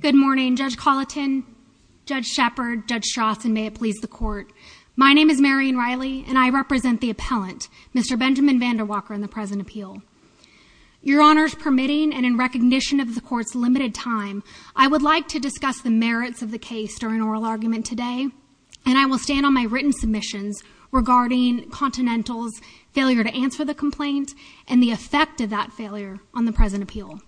Good morning, Judge Colleton, Judge Shepard, Judge Strauss, and may it please the Court. My name is Marion Riley, and I represent the appellant, Mr. Benjamin Vandewalker, in the present appeal. Your Honors, permitting and in recognition of the Court's limited time, I would like to discuss the merits of the case during oral argument today, and I will stand on my written regarding Continental's failure to answer the complaint and the effect of that failure on the present appeal.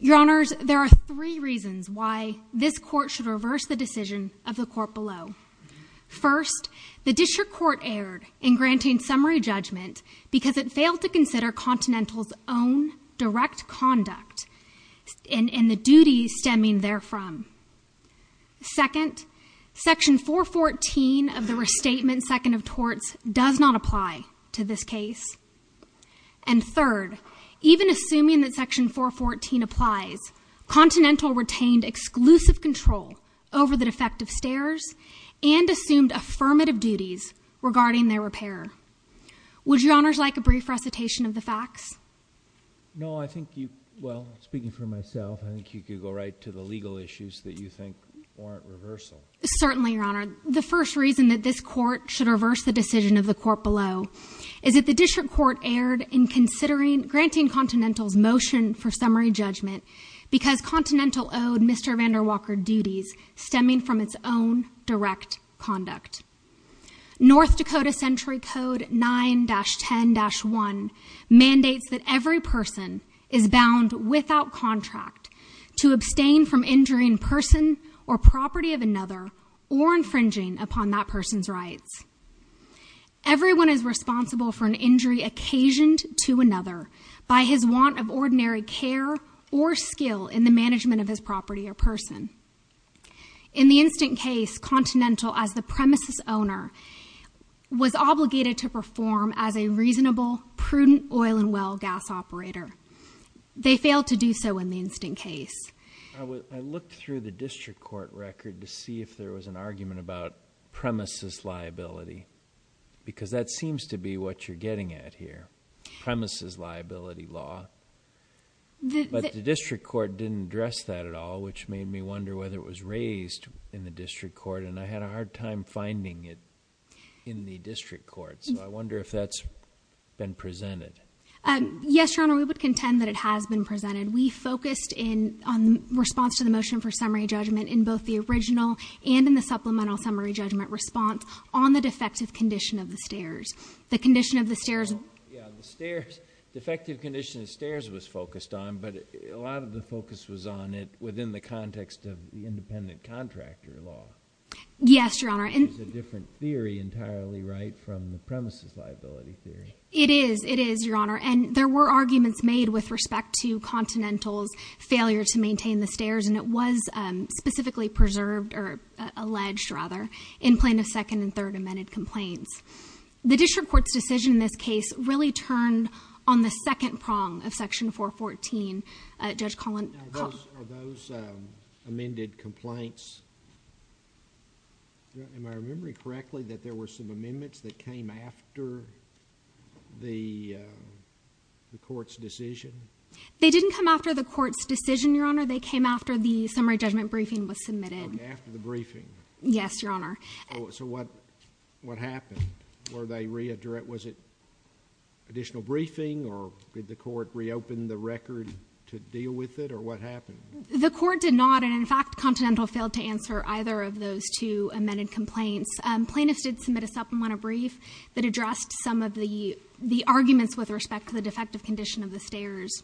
Your Honors, there are three reasons why this Court should reverse the decision of the Court below. First, the District Court erred in granting summary judgment because it failed to consider Continental's own direct conduct and the duties stemming therefrom. Second, Section 414 of the Restatement Second of Torts does not apply to this case. And third, even assuming that Section 414 applies, Continental retained exclusive control over the defective stairs and assumed affirmative duties regarding their repair. Would Your Honors like a brief recitation of the facts? No, I think you, well, speaking for myself, I think you could go right to the legal issues that you think warrant reversal. Certainly, Your Honor. The first reason that this Court should reverse the decision of the Court below is that the District Court erred in considering, granting Continental's motion for summary judgment because Continental owed Mr. Vandewalker duties stemming from its own direct conduct. North Dakota Century Code 9-10-1 mandates that every person is bound without contract to abstain from injuring a person or property of another or infringing upon that person's rights. Everyone is responsible for an injury occasioned to another by his want of ordinary care or skill in the management of his property or person. In the instant case, Continental, as the premises owner, was obligated to perform as a reasonable, prudent oil and well gas operator. They failed to do so in the instant case. I looked through the District Court record to see if there was an argument about premises liability because that seems to be what you're getting at here. Premises liability law. But the District Court didn't address that at all, which made me wonder whether it was raised in the District Court, and I had a hard time finding it in the District Court. So I wonder if that's been presented. Yes, Your Honor, we would contend that it has been presented. We focused in response to the motion for summary judgment in both the original and in the supplemental summary judgment response on the defective condition of the stairs. The condition of the stairs. Yeah, the stairs. Defective condition of the stairs was focused on, but a lot of the focus was on it within the context of the independent contractor law. Yes, Your Honor. Which is a different theory entirely, right, from the premises liability theory. It is. It is, Your Honor, and there were arguments made with respect to Continental's failure to maintain the stairs, and it was specifically preserved, or alleged rather, in plaintiff's second and third amended complaints. The District Court's decision in this case really turned on the second prong of Section 414. Judge Collin. Are those amended complaints, am I remembering correctly, that there were some amendments that came after the Court's decision? They didn't come after the Court's decision, Your Honor, they came after the summary judgment briefing was submitted. Oh, after the briefing. Yes, Your Honor. So what happened? Were they re-addressed, was it additional briefing, or did the Court reopen the record to deal with it, or what happened? The Court did not, and in fact, Continental failed to answer either of those two amended complaints. Plaintiffs did submit a supplement of brief that addressed some of the arguments with respect to the defective condition of the stairs,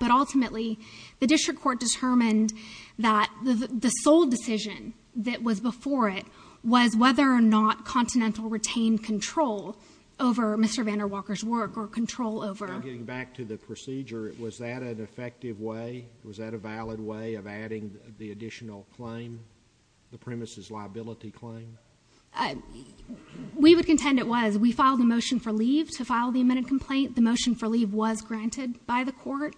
but ultimately, the District Court determined that the sole decision that was before it was whether or not Continental retained control over Mr. VanderWalker's work, or control over... Now getting back to the procedure, was that an effective way, was that a valid way of adding the additional claim, the premises liability claim? We would contend it was. We filed a motion for leave to file the amended complaint. The motion for leave was granted by the Court.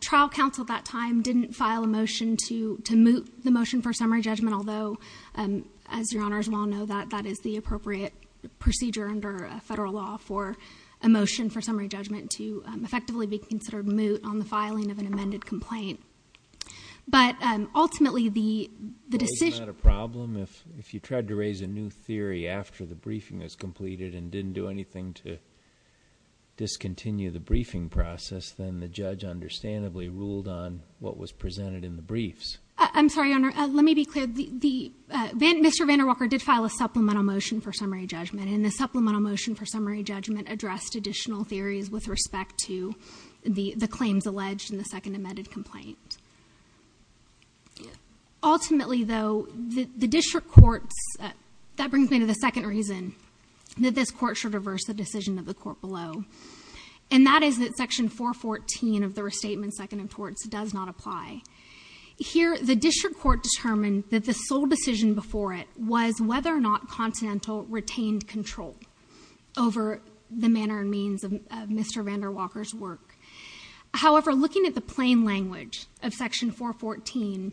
Trial Counsel at that time didn't file a motion to moot the motion for summary judgment, although, as Your Honors well know, that is the appropriate procedure under federal law for a motion for summary judgment to effectively be considered moot on the filing of an amended complaint. But ultimately, the decision... Wasn't that a problem? If you tried to raise a new theory after the briefing was completed and didn't do anything to discontinue the briefing process, then the judge understandably ruled on what was presented in the briefs. I'm sorry, Your Honor. Let me be clear. Mr. VanderWalker did file a supplemental motion for summary judgment, and the supplemental motion for summary judgment addressed additional theories with respect to the claims alleged in the second amended complaint. Ultimately, though, the District Courts... And, that is that Section 414 of the Restatement Second of Torts does not apply. Here, the District Court determined that the sole decision before it was whether or not Constantinel retained control over the manner and means of Mr. VanderWalker's work. However, looking at the plain language of Section 414,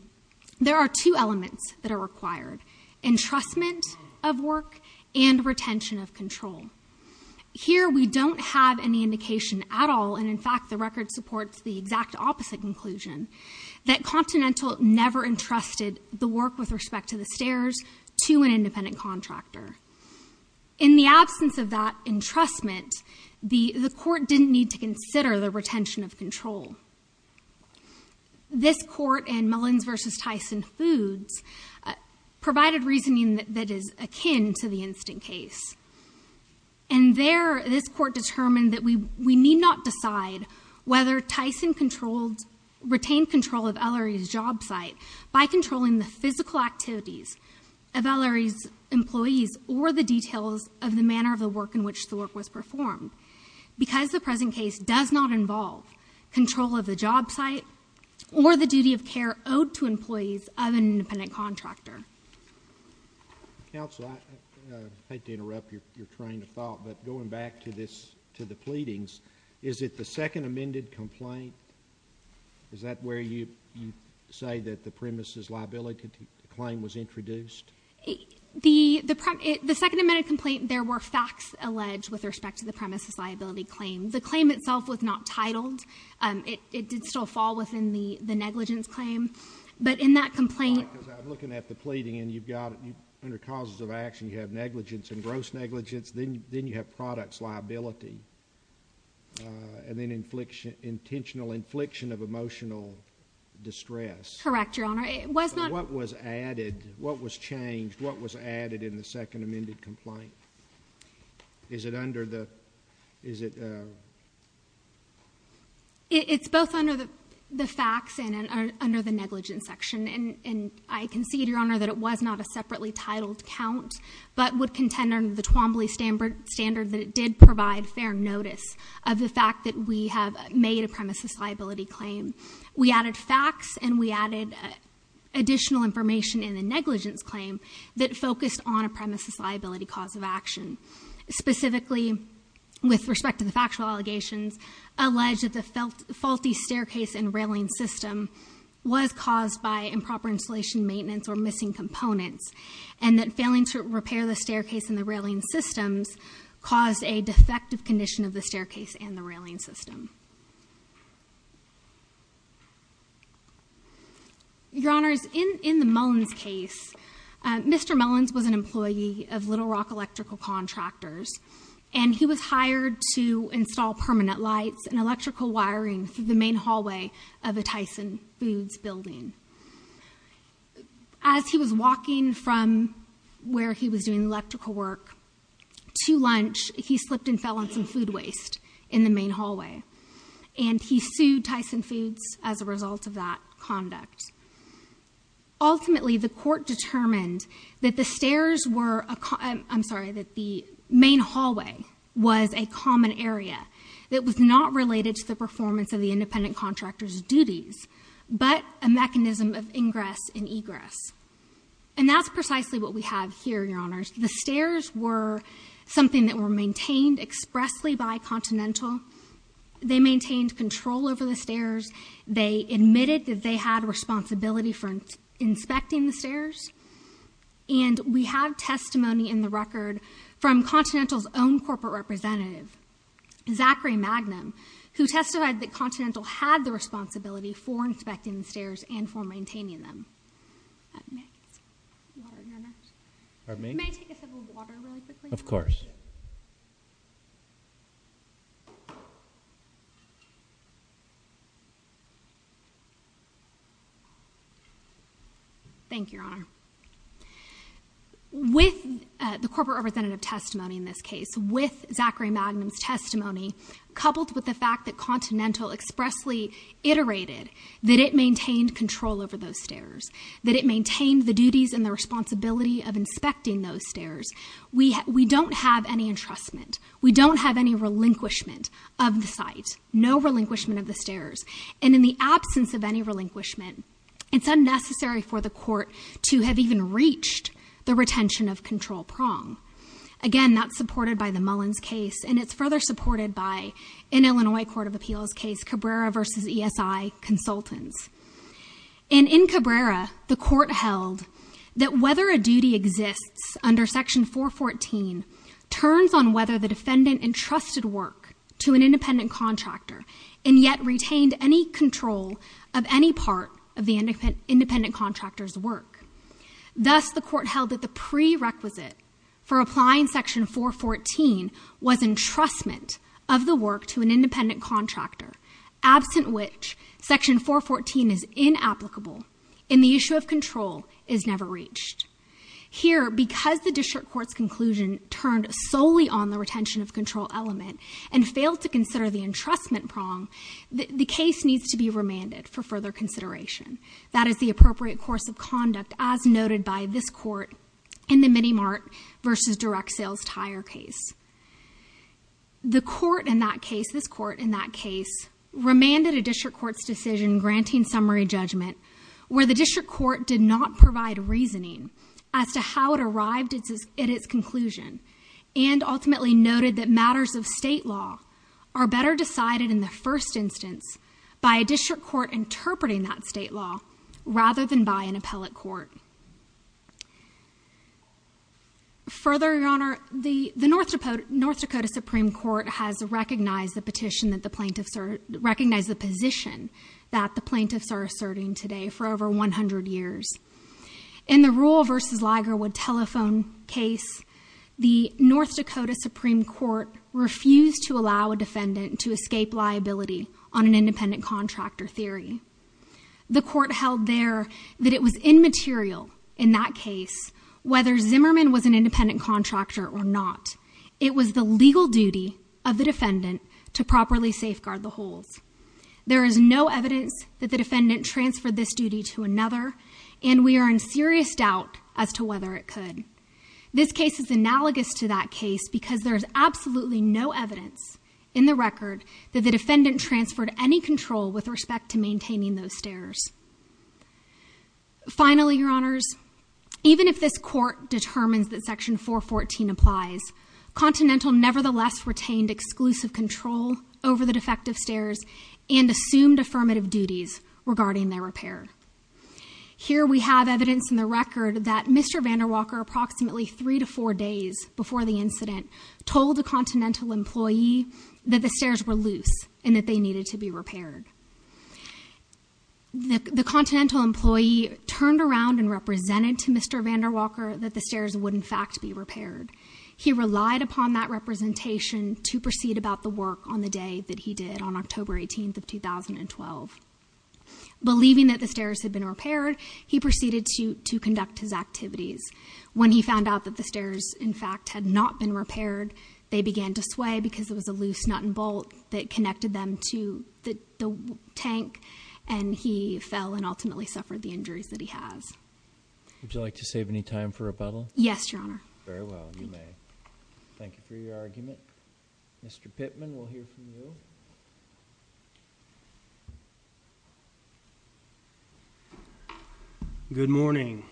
there are two elements that are required, Entrustment of Work and Retention of Control. Here, we don't have any indication at all, and in fact, the record supports the exact opposite conclusion, that Constantinel never entrusted the work with respect to the stairs to an independent contractor. In the absence of that entrustment, the Court didn't need to consider the retention of control. This Court, in Mullins v. Tyson Foods, provided reasoning that is akin to the instant case. And there, this Court determined that we need not decide whether Tyson retained control of Ellery's job site by controlling the physical activities of Ellery's employees or the details of the manner of the work in which the work was performed. Because the present case does not involve control of the job site or the duty of care owed to employees of an independent contractor. Counsel, I hate to interrupt your train of thought, but going back to the pleadings, is it the second amended complaint? Is that where you say that the premise's liability claim was introduced? The second amended complaint, there were facts alleged with respect to the premise's liability claim. The claim itself was not titled. It did still fall within the negligence claim. But in that complaint... Because I'm looking at the pleading, and you've got, under causes of action, you have negligence and gross negligence, then you have products liability, and then intentional infliction of emotional distress. Correct, Your Honor. It was not... What was added? What was changed? What was added in the second amended complaint? Is it under the... It's both under the facts and under the negligence section. I concede, Your Honor, that it was not a separately titled count, but would contend under the Twombly standard that it did provide fair notice of the fact that we have made a premise's liability claim. We added facts, and we added additional information in the negligence claim that focused on a premise's liability cause of action. Specifically, with respect to the factual allegations, alleged that the faulty staircase and railing system was caused by improper installation, maintenance, or missing components, and that failing to repair the staircase and the railing systems caused a defective condition of the staircase and the railing system. Your Honors, in the Mullins case, Mr. Mullins was an employee of Little Rock Electrical Contractors, and he was hired to install permanent lights and electrical wiring through the main hallway of a Tyson Foods building. As he was walking from where he was doing electrical work to lunch, he slipped and fell on some food waste in the main hallway. And he sued Tyson Foods as a result of that conduct. Ultimately, the court determined that the stairs were a common, I'm sorry, that the main hallway was a common area that was not related to the performance of the independent contractor's duties, but a mechanism of ingress and egress. And that's precisely what we have here, Your Honors. The stairs were something that were maintained expressly by Continental. They maintained control over the stairs. They admitted that they had responsibility for inspecting the stairs. And we have testimony in the record from Continental's own corporate representative, Zachary Magnum, who testified that Continental had the responsibility for inspecting the stairs and for maintaining them. May I take a sip of water, Your Honor? Pardon me? May I take a sip of water, really quickly? Of course. Thank you, Your Honor. With the corporate representative testimony in this case, with Zachary Magnum's testimony, coupled with the fact that Continental expressly iterated that it maintained control over those stairs, that it maintained the duties and the responsibility of inspecting those stairs, we don't have any entrustment. We don't have any relinquishment of the site. No relinquishment of the stairs. And in the absence of any relinquishment, it's unnecessary for the court to have even reached the retention of control prong. Again, that's supported by the Mullins case, and it's further supported by, in Illinois Court of Appeals case, Cabrera v. ESI Consultants. And in Cabrera, the court held that whether a duty exists under Section 414 turns on whether the defendant entrusted work to an independent contractor and yet retained any control of any part of the independent contractor's work. Thus, the court held that the prerequisite for applying Section 414 was entrustment of the work to an independent contractor, absent which Section 414 is inapplicable and the issue of control is never reached. Here, because the district court's conclusion turned solely on the retention of control element and failed to consider the entrustment prong, the case needs to be remanded for further consideration. That is the appropriate course of conduct, as noted by this court in the Minimart v. Direct Sales Tire case. The court in that case, this court in that case, remanded a district court's decision granting summary judgment where the district court did not provide reasoning as to how it arrived at its conclusion and ultimately noted that matters of state law are better decided in the first instance by a district court interpreting that state law rather than by an appellate court. Further, Your Honor, the North Dakota Supreme Court has recognized the petition that the plaintiffs are, recognized the position that the plaintiffs are asserting today for over 100 years. In the Rule v. Ligerwood telephone case, the North Dakota Supreme Court refused to allow a defendant to escape liability on an independent contractor theory. The court held there that it was immaterial in that case whether Zimmerman was an independent contractor or not. It was the legal duty of the defendant to properly safeguard the holds. There is no evidence that the defendant transferred this duty to another and we are in serious doubt as to whether it could. This case is analogous to that case because there is absolutely no evidence in the record that the defendant transferred any control with respect to maintaining those stairs. Finally, Your Honors, even if this court determines that Section 414 applies, Continental nevertheless retained exclusive control over the defective stairs and assumed affirmative duties regarding their repair. Here we have evidence in the record that Mr. VanderWalker approximately three to four days before the incident told a Continental employee that the stairs were loose and that they needed to be repaired. The Continental employee turned around and represented to Mr. VanderWalker that the stairs would in fact be repaired. He relied upon that representation to proceed about the work on the day that he did on October 18th of 2012. Believing that the stairs had been repaired, he proceeded to conduct his activities. When he found out that the stairs in fact had not been repaired, they began to sway because there was a loose nut and bolt that connected them to the tank and he fell and ultimately suffered the injuries that he has. Would you like to save any time for rebuttal? Yes, Your Honor. Very well. Thank you for your argument. Mr. Pittman, we'll hear from you. Good morning. Good morning.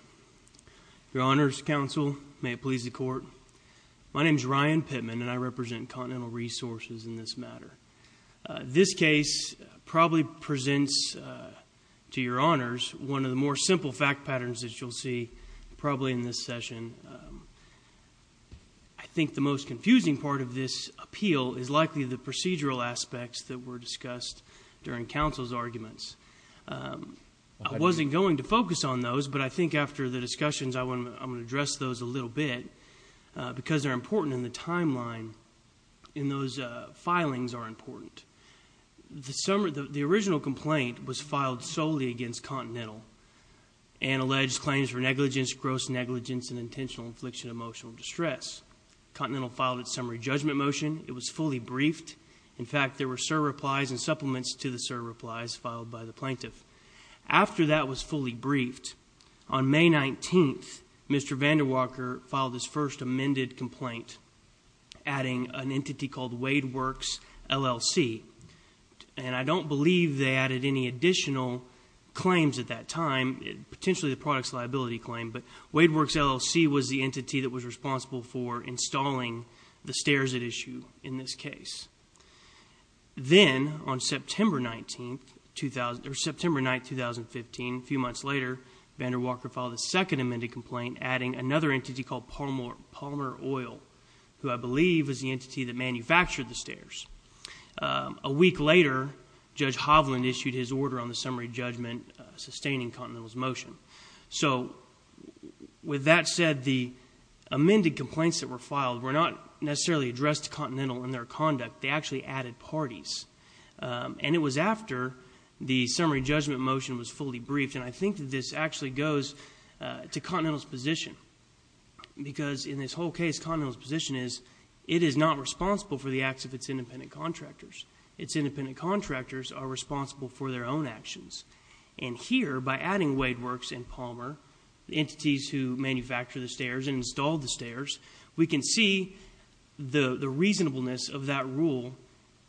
Your Honors, Counsel, may it please the Court. My name is Ryan Pittman and I represent Continental Resources in this matter. This case probably presents to Your Honors one of the more simple fact patterns that you'll see probably in this session. I think the most confusing part of this appeal is likely the procedural aspects that were discussed during Counsel's arguments. I wasn't going to focus on those, but I think after the discussions I want to address those a little bit because they're important in the timeline and those filings are important. The original complaint was filed solely against Continental and alleged claims were negligence, gross negligence, and intentional infliction of emotional distress. Continental filed its summary judgment motion. It was fully briefed. In fact, there were surreplies and supplements to the surreplies filed by the plaintiff. After that was fully briefed, on May 19th, Mr. VanderWalker filed his first amended complaint adding an entity called WadeWorks, LLC. And I don't believe they added any additional claims at that time, potentially the products liability claim, but WadeWorks, LLC was the entity that was responsible for installing the stairs at issue in this case. Then, on September 9th, 2015, a few months later, VanderWalker filed a second amended complaint adding another entity called Palmer Oil, who I believe was the entity that manufactured the stairs. A week later, Judge Hovland issued his order on the summary judgment sustaining Continental's motion. So, with that said, the amended complaints that were filed were not necessarily addressed to Continental in their conduct, they actually added parties. And it was after the summary judgment motion was fully briefed, and I think that this actually goes to Continental's position, because in this whole case, Continental's position is it is not responsible for the acts of its independent contractors. Its independent contractors are responsible for their own actions. And here, by adding WadeWorks and Palmer, the entities who manufactured the stairs and installed the stairs, we can see the reasonableness of that rule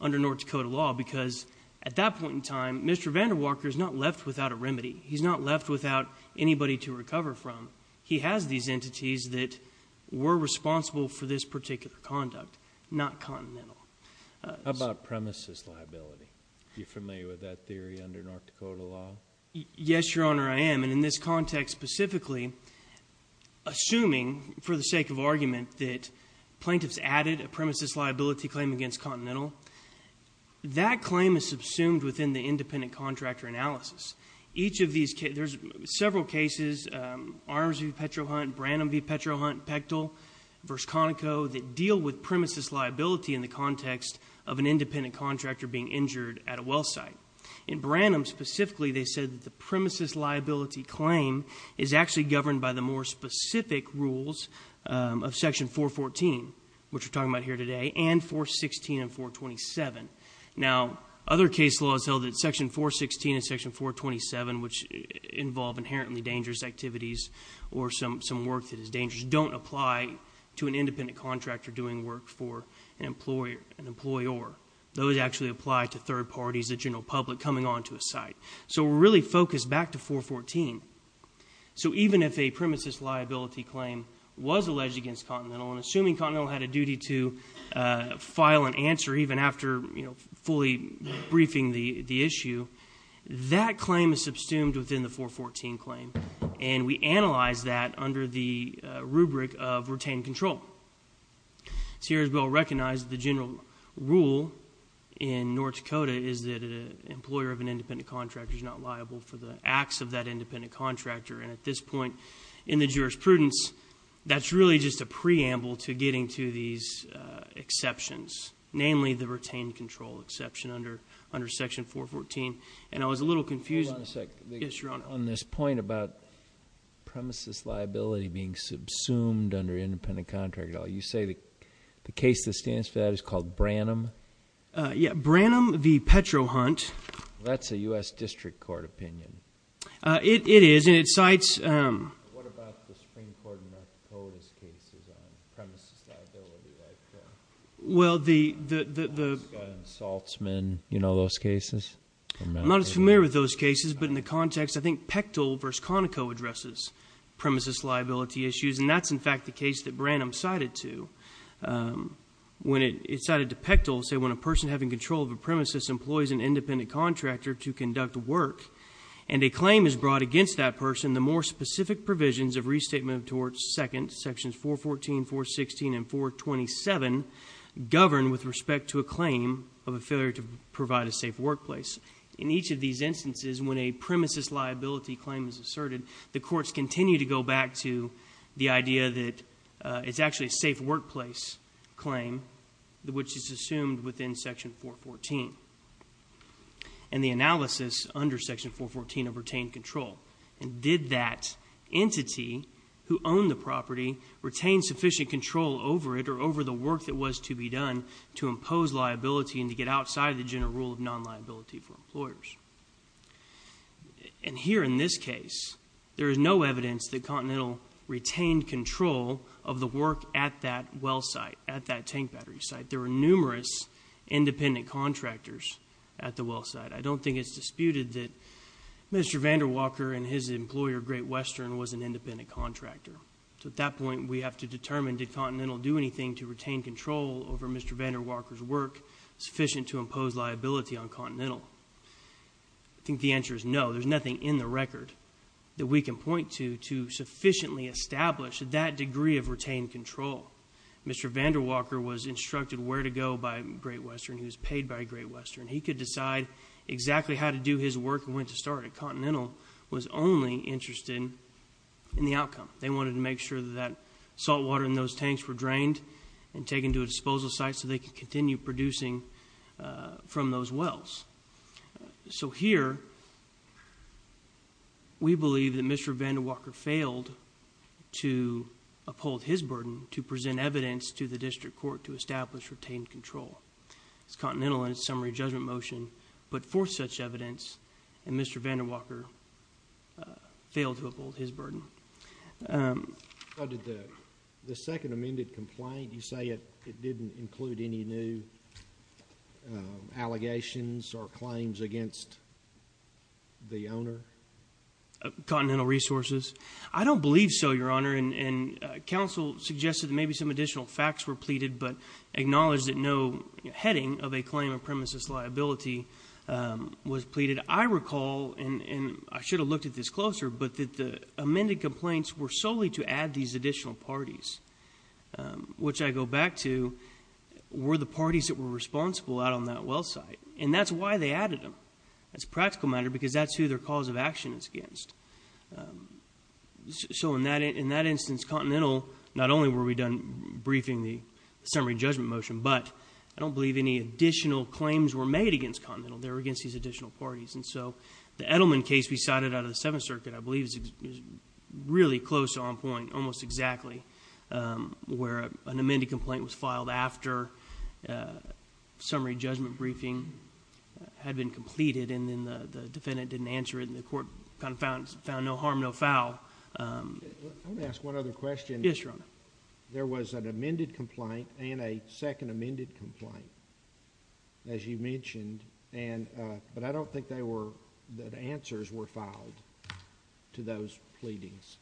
under North Dakota law, because at that point in time, Mr. VanderWalker is not left without a remedy. He's not left without anybody to recover from. He has these entities that were responsible for this particular conduct, not Continental. How about premises liability? Are you familiar with that theory under North Dakota law? Yes, Your Honor, I am. And in this context specifically, assuming, for the sake of argument, that plaintiffs added a premises liability claim against Continental, that claim is subsumed within the independent contractor analysis. Each of these cases, there's several cases, Arms v. Petrohunt, Branham v. Petrohunt, Pechtel v. Conoco, that deal with premises liability in the context of an independent contractor being injured at a well site. In Branham specifically, they said that the premises liability claim is actually governed by the more specific rules of section 414, which we're talking about here today, and 416 and 427. Now other case laws held that section 416 and section 427, which involve inherently dangerous activities or some work that is dangerous, don't apply to an independent contractor doing work for an employer. Those actually apply to third parties, the general public coming onto a site. So we're really focused back to 414. So even if a premises liability claim was alleged against Continental, and assuming Continental had a duty to file an answer even after fully briefing the issue, that claim is subsumed within the 414 claim, and we analyze that under the rubric of retained control. Searsville recognized the general rule in North Dakota is that an employer of an independent contractor is not liable for the acts of that independent contractor, and at this point in the jurisprudence, that's really just a preamble to getting to these exceptions, namely the retained control exception under section 414. And I was a little confused on this point about premises liability being subsumed under independent contractor. You say the case that stands for that is called Branham? Yeah, Branham v. Petro Hunt. That's a U.S. District Court opinion. It is, and it cites... What about the Supreme Court in North Dakota's case on premises liability? Well the... I'm not as familiar with those cases, but in the context, I think Pechtel v. Conoco addresses premises liability issues, and that's in fact the case that Branham cited to. When it cited to Pechtel, say when a person having control of a premises employs an independent contractor to conduct work, and a claim is brought against that person, the more specific provisions of Restatement of Torts 2nd, sections 414, 416, and 427, govern with respect to a claim of a failure to provide a safe workplace. In each of these instances, when a premises liability claim is asserted, the courts continue to go back to the idea that it's actually a safe workplace claim, which is assumed within section 414. And the analysis under section 414 of retained control, did that entity who owned the property retain sufficient control over it, or over the work that was to be done to impose liability and to get outside the general rule of non-liability for employers? And here in this case, there is no evidence that Continental retained control of the work at that well site, at that tank battery site. There were numerous independent contractors at the well site. I don't think it's disputed that Mr. VanderWalker and his employer Great Western was an independent contractor. So at that point, we have to determine, did Continental do anything to retain control over Mr. VanderWalker's work sufficient to impose liability on Continental? I think the answer is no, there's nothing in the record that we can point to to sufficiently establish that degree of retained control. Mr. VanderWalker was instructed where to go by Great Western, he was paid by Great Western. He could decide exactly how to do his work and when to start it. Continental was only interested in the outcome. They wanted to make sure that salt water in those tanks were drained and taken to a disposal site so they could continue producing from those wells. So here, we believe that Mr. VanderWalker failed to uphold his burden to present evidence to the district court to establish retained control. It's Continental in its summary judgment motion, but for such evidence, and Mr. VanderWalker failed to uphold his burden. The second amended complaint, you say it didn't include any new allegations or claims against the owner? Continental Resources. I don't believe so, Your Honor, and counsel suggested maybe some additional facts were pleaded but acknowledged that no heading of a claim of premises liability was pleaded. I recall, and I should have looked at this closer, but that the amended complaints were solely to add these additional parties, which I go back to were the parties that were responsible out on that well site, and that's why they added them. That's a practical matter because that's who their cause of action is against. So in that instance, Continental, not only were we done briefing the summary judgment motion, but I don't believe any additional claims were made against Continental. They were against these additional parties, and so the Edelman case we cited out of the Seventh Circuit, I believe, is really close to on point, almost exactly, where an amended complaint was filed after summary judgment briefing had been completed and then the defendant didn't answer it and the court found no harm, no foul. Let me ask one other question. Yes, Your Honor. There was an amended complaint and a second amended complaint, as you mentioned, but I don't think that answers were filed to those pleadings.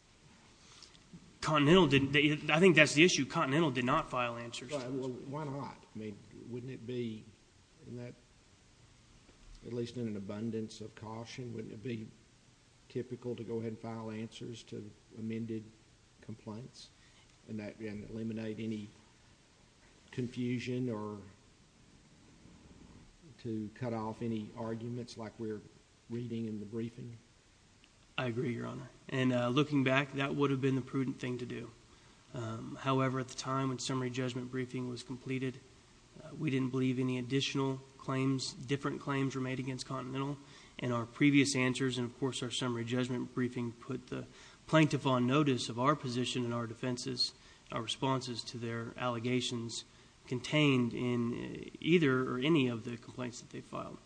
I think that's the issue. Continental did not file answers to those. Why not? I mean, wouldn't it be, at least in an abundance of caution, wouldn't it be typical to go ahead and file answers to amended complaints and eliminate any confusion or to cut off any arguments like we're reading in the briefing? I agree, Your Honor. And looking back, that would have been the prudent thing to do. However, at the time when summary judgment briefing was completed, we didn't believe any additional claims, different claims were made against Continental, and our previous answers and, of course, our summary judgment briefing put the plaintiff on notice of our position and our defenses, our responses to their allegations contained in either or any of the complaints that they filed.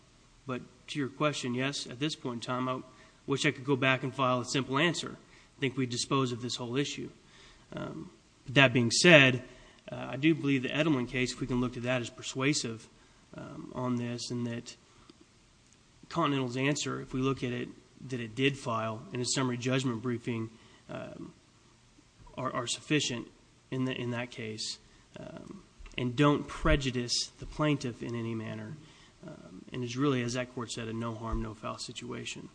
But to your question, yes, at this point in time, I wish I could go back and file a simple answer. I think we'd dispose of this whole issue. That being said, I do believe the Edelman case, if we can look to that, is persuasive on this and that Continental's answer, if we look at it, that it did file in a summary judgment briefing, are sufficient in that case and don't prejudice the plaintiff in any manner. And it's really, as that court said, a no harm, no foul situation.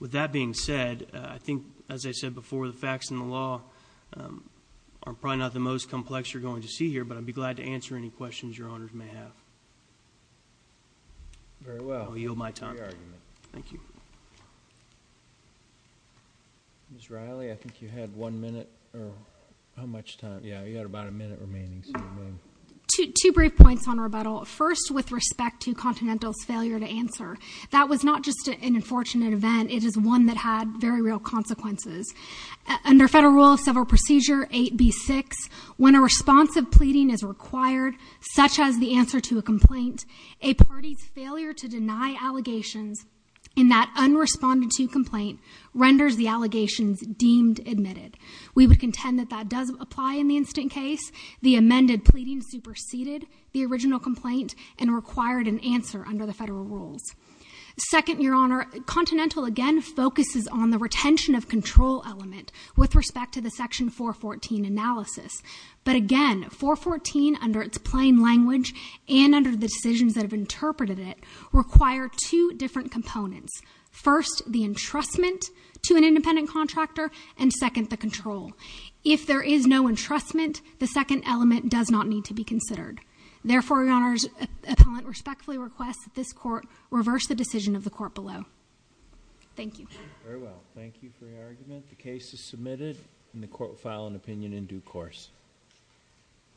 With that being said, I think, as I said before, the facts and the law are probably not the most complex you're going to see here, but I'd be glad to answer any questions Your Honors may have. Very well. I'll yield my time. Great argument. Thank you. Ms. Riley, I think you had one minute or how much time, yeah, you had about a minute remaining. Two brief points on rebuttal. First, with respect to Continental's failure to answer. That was not just an unfortunate event, it is one that had very real consequences. Under Federal Rule of Civil Procedure 8B6, when a response of pleading is required, such as the answer to a complaint, a party's failure to deny allegations in that unresponded to complaint renders the allegations deemed admitted. We would contend that that does apply in the instant case. The amended pleading superseded the original complaint and required an answer under the Federal Rules. Second, Your Honor, Continental again focuses on the retention of control element with respect to the Section 414 analysis. But again, 414 under its plain language and under the decisions that have interpreted it require two different components. First, the entrustment to an independent contractor and second, the control. If there is no entrustment, the second element does not need to be considered. Therefore, Your Honor's appellant respectfully requests that this Court reverse the decision of the Court below. Thank you. Very well. Thank you for your argument. The case is submitted and the Court will file an opinion in due course.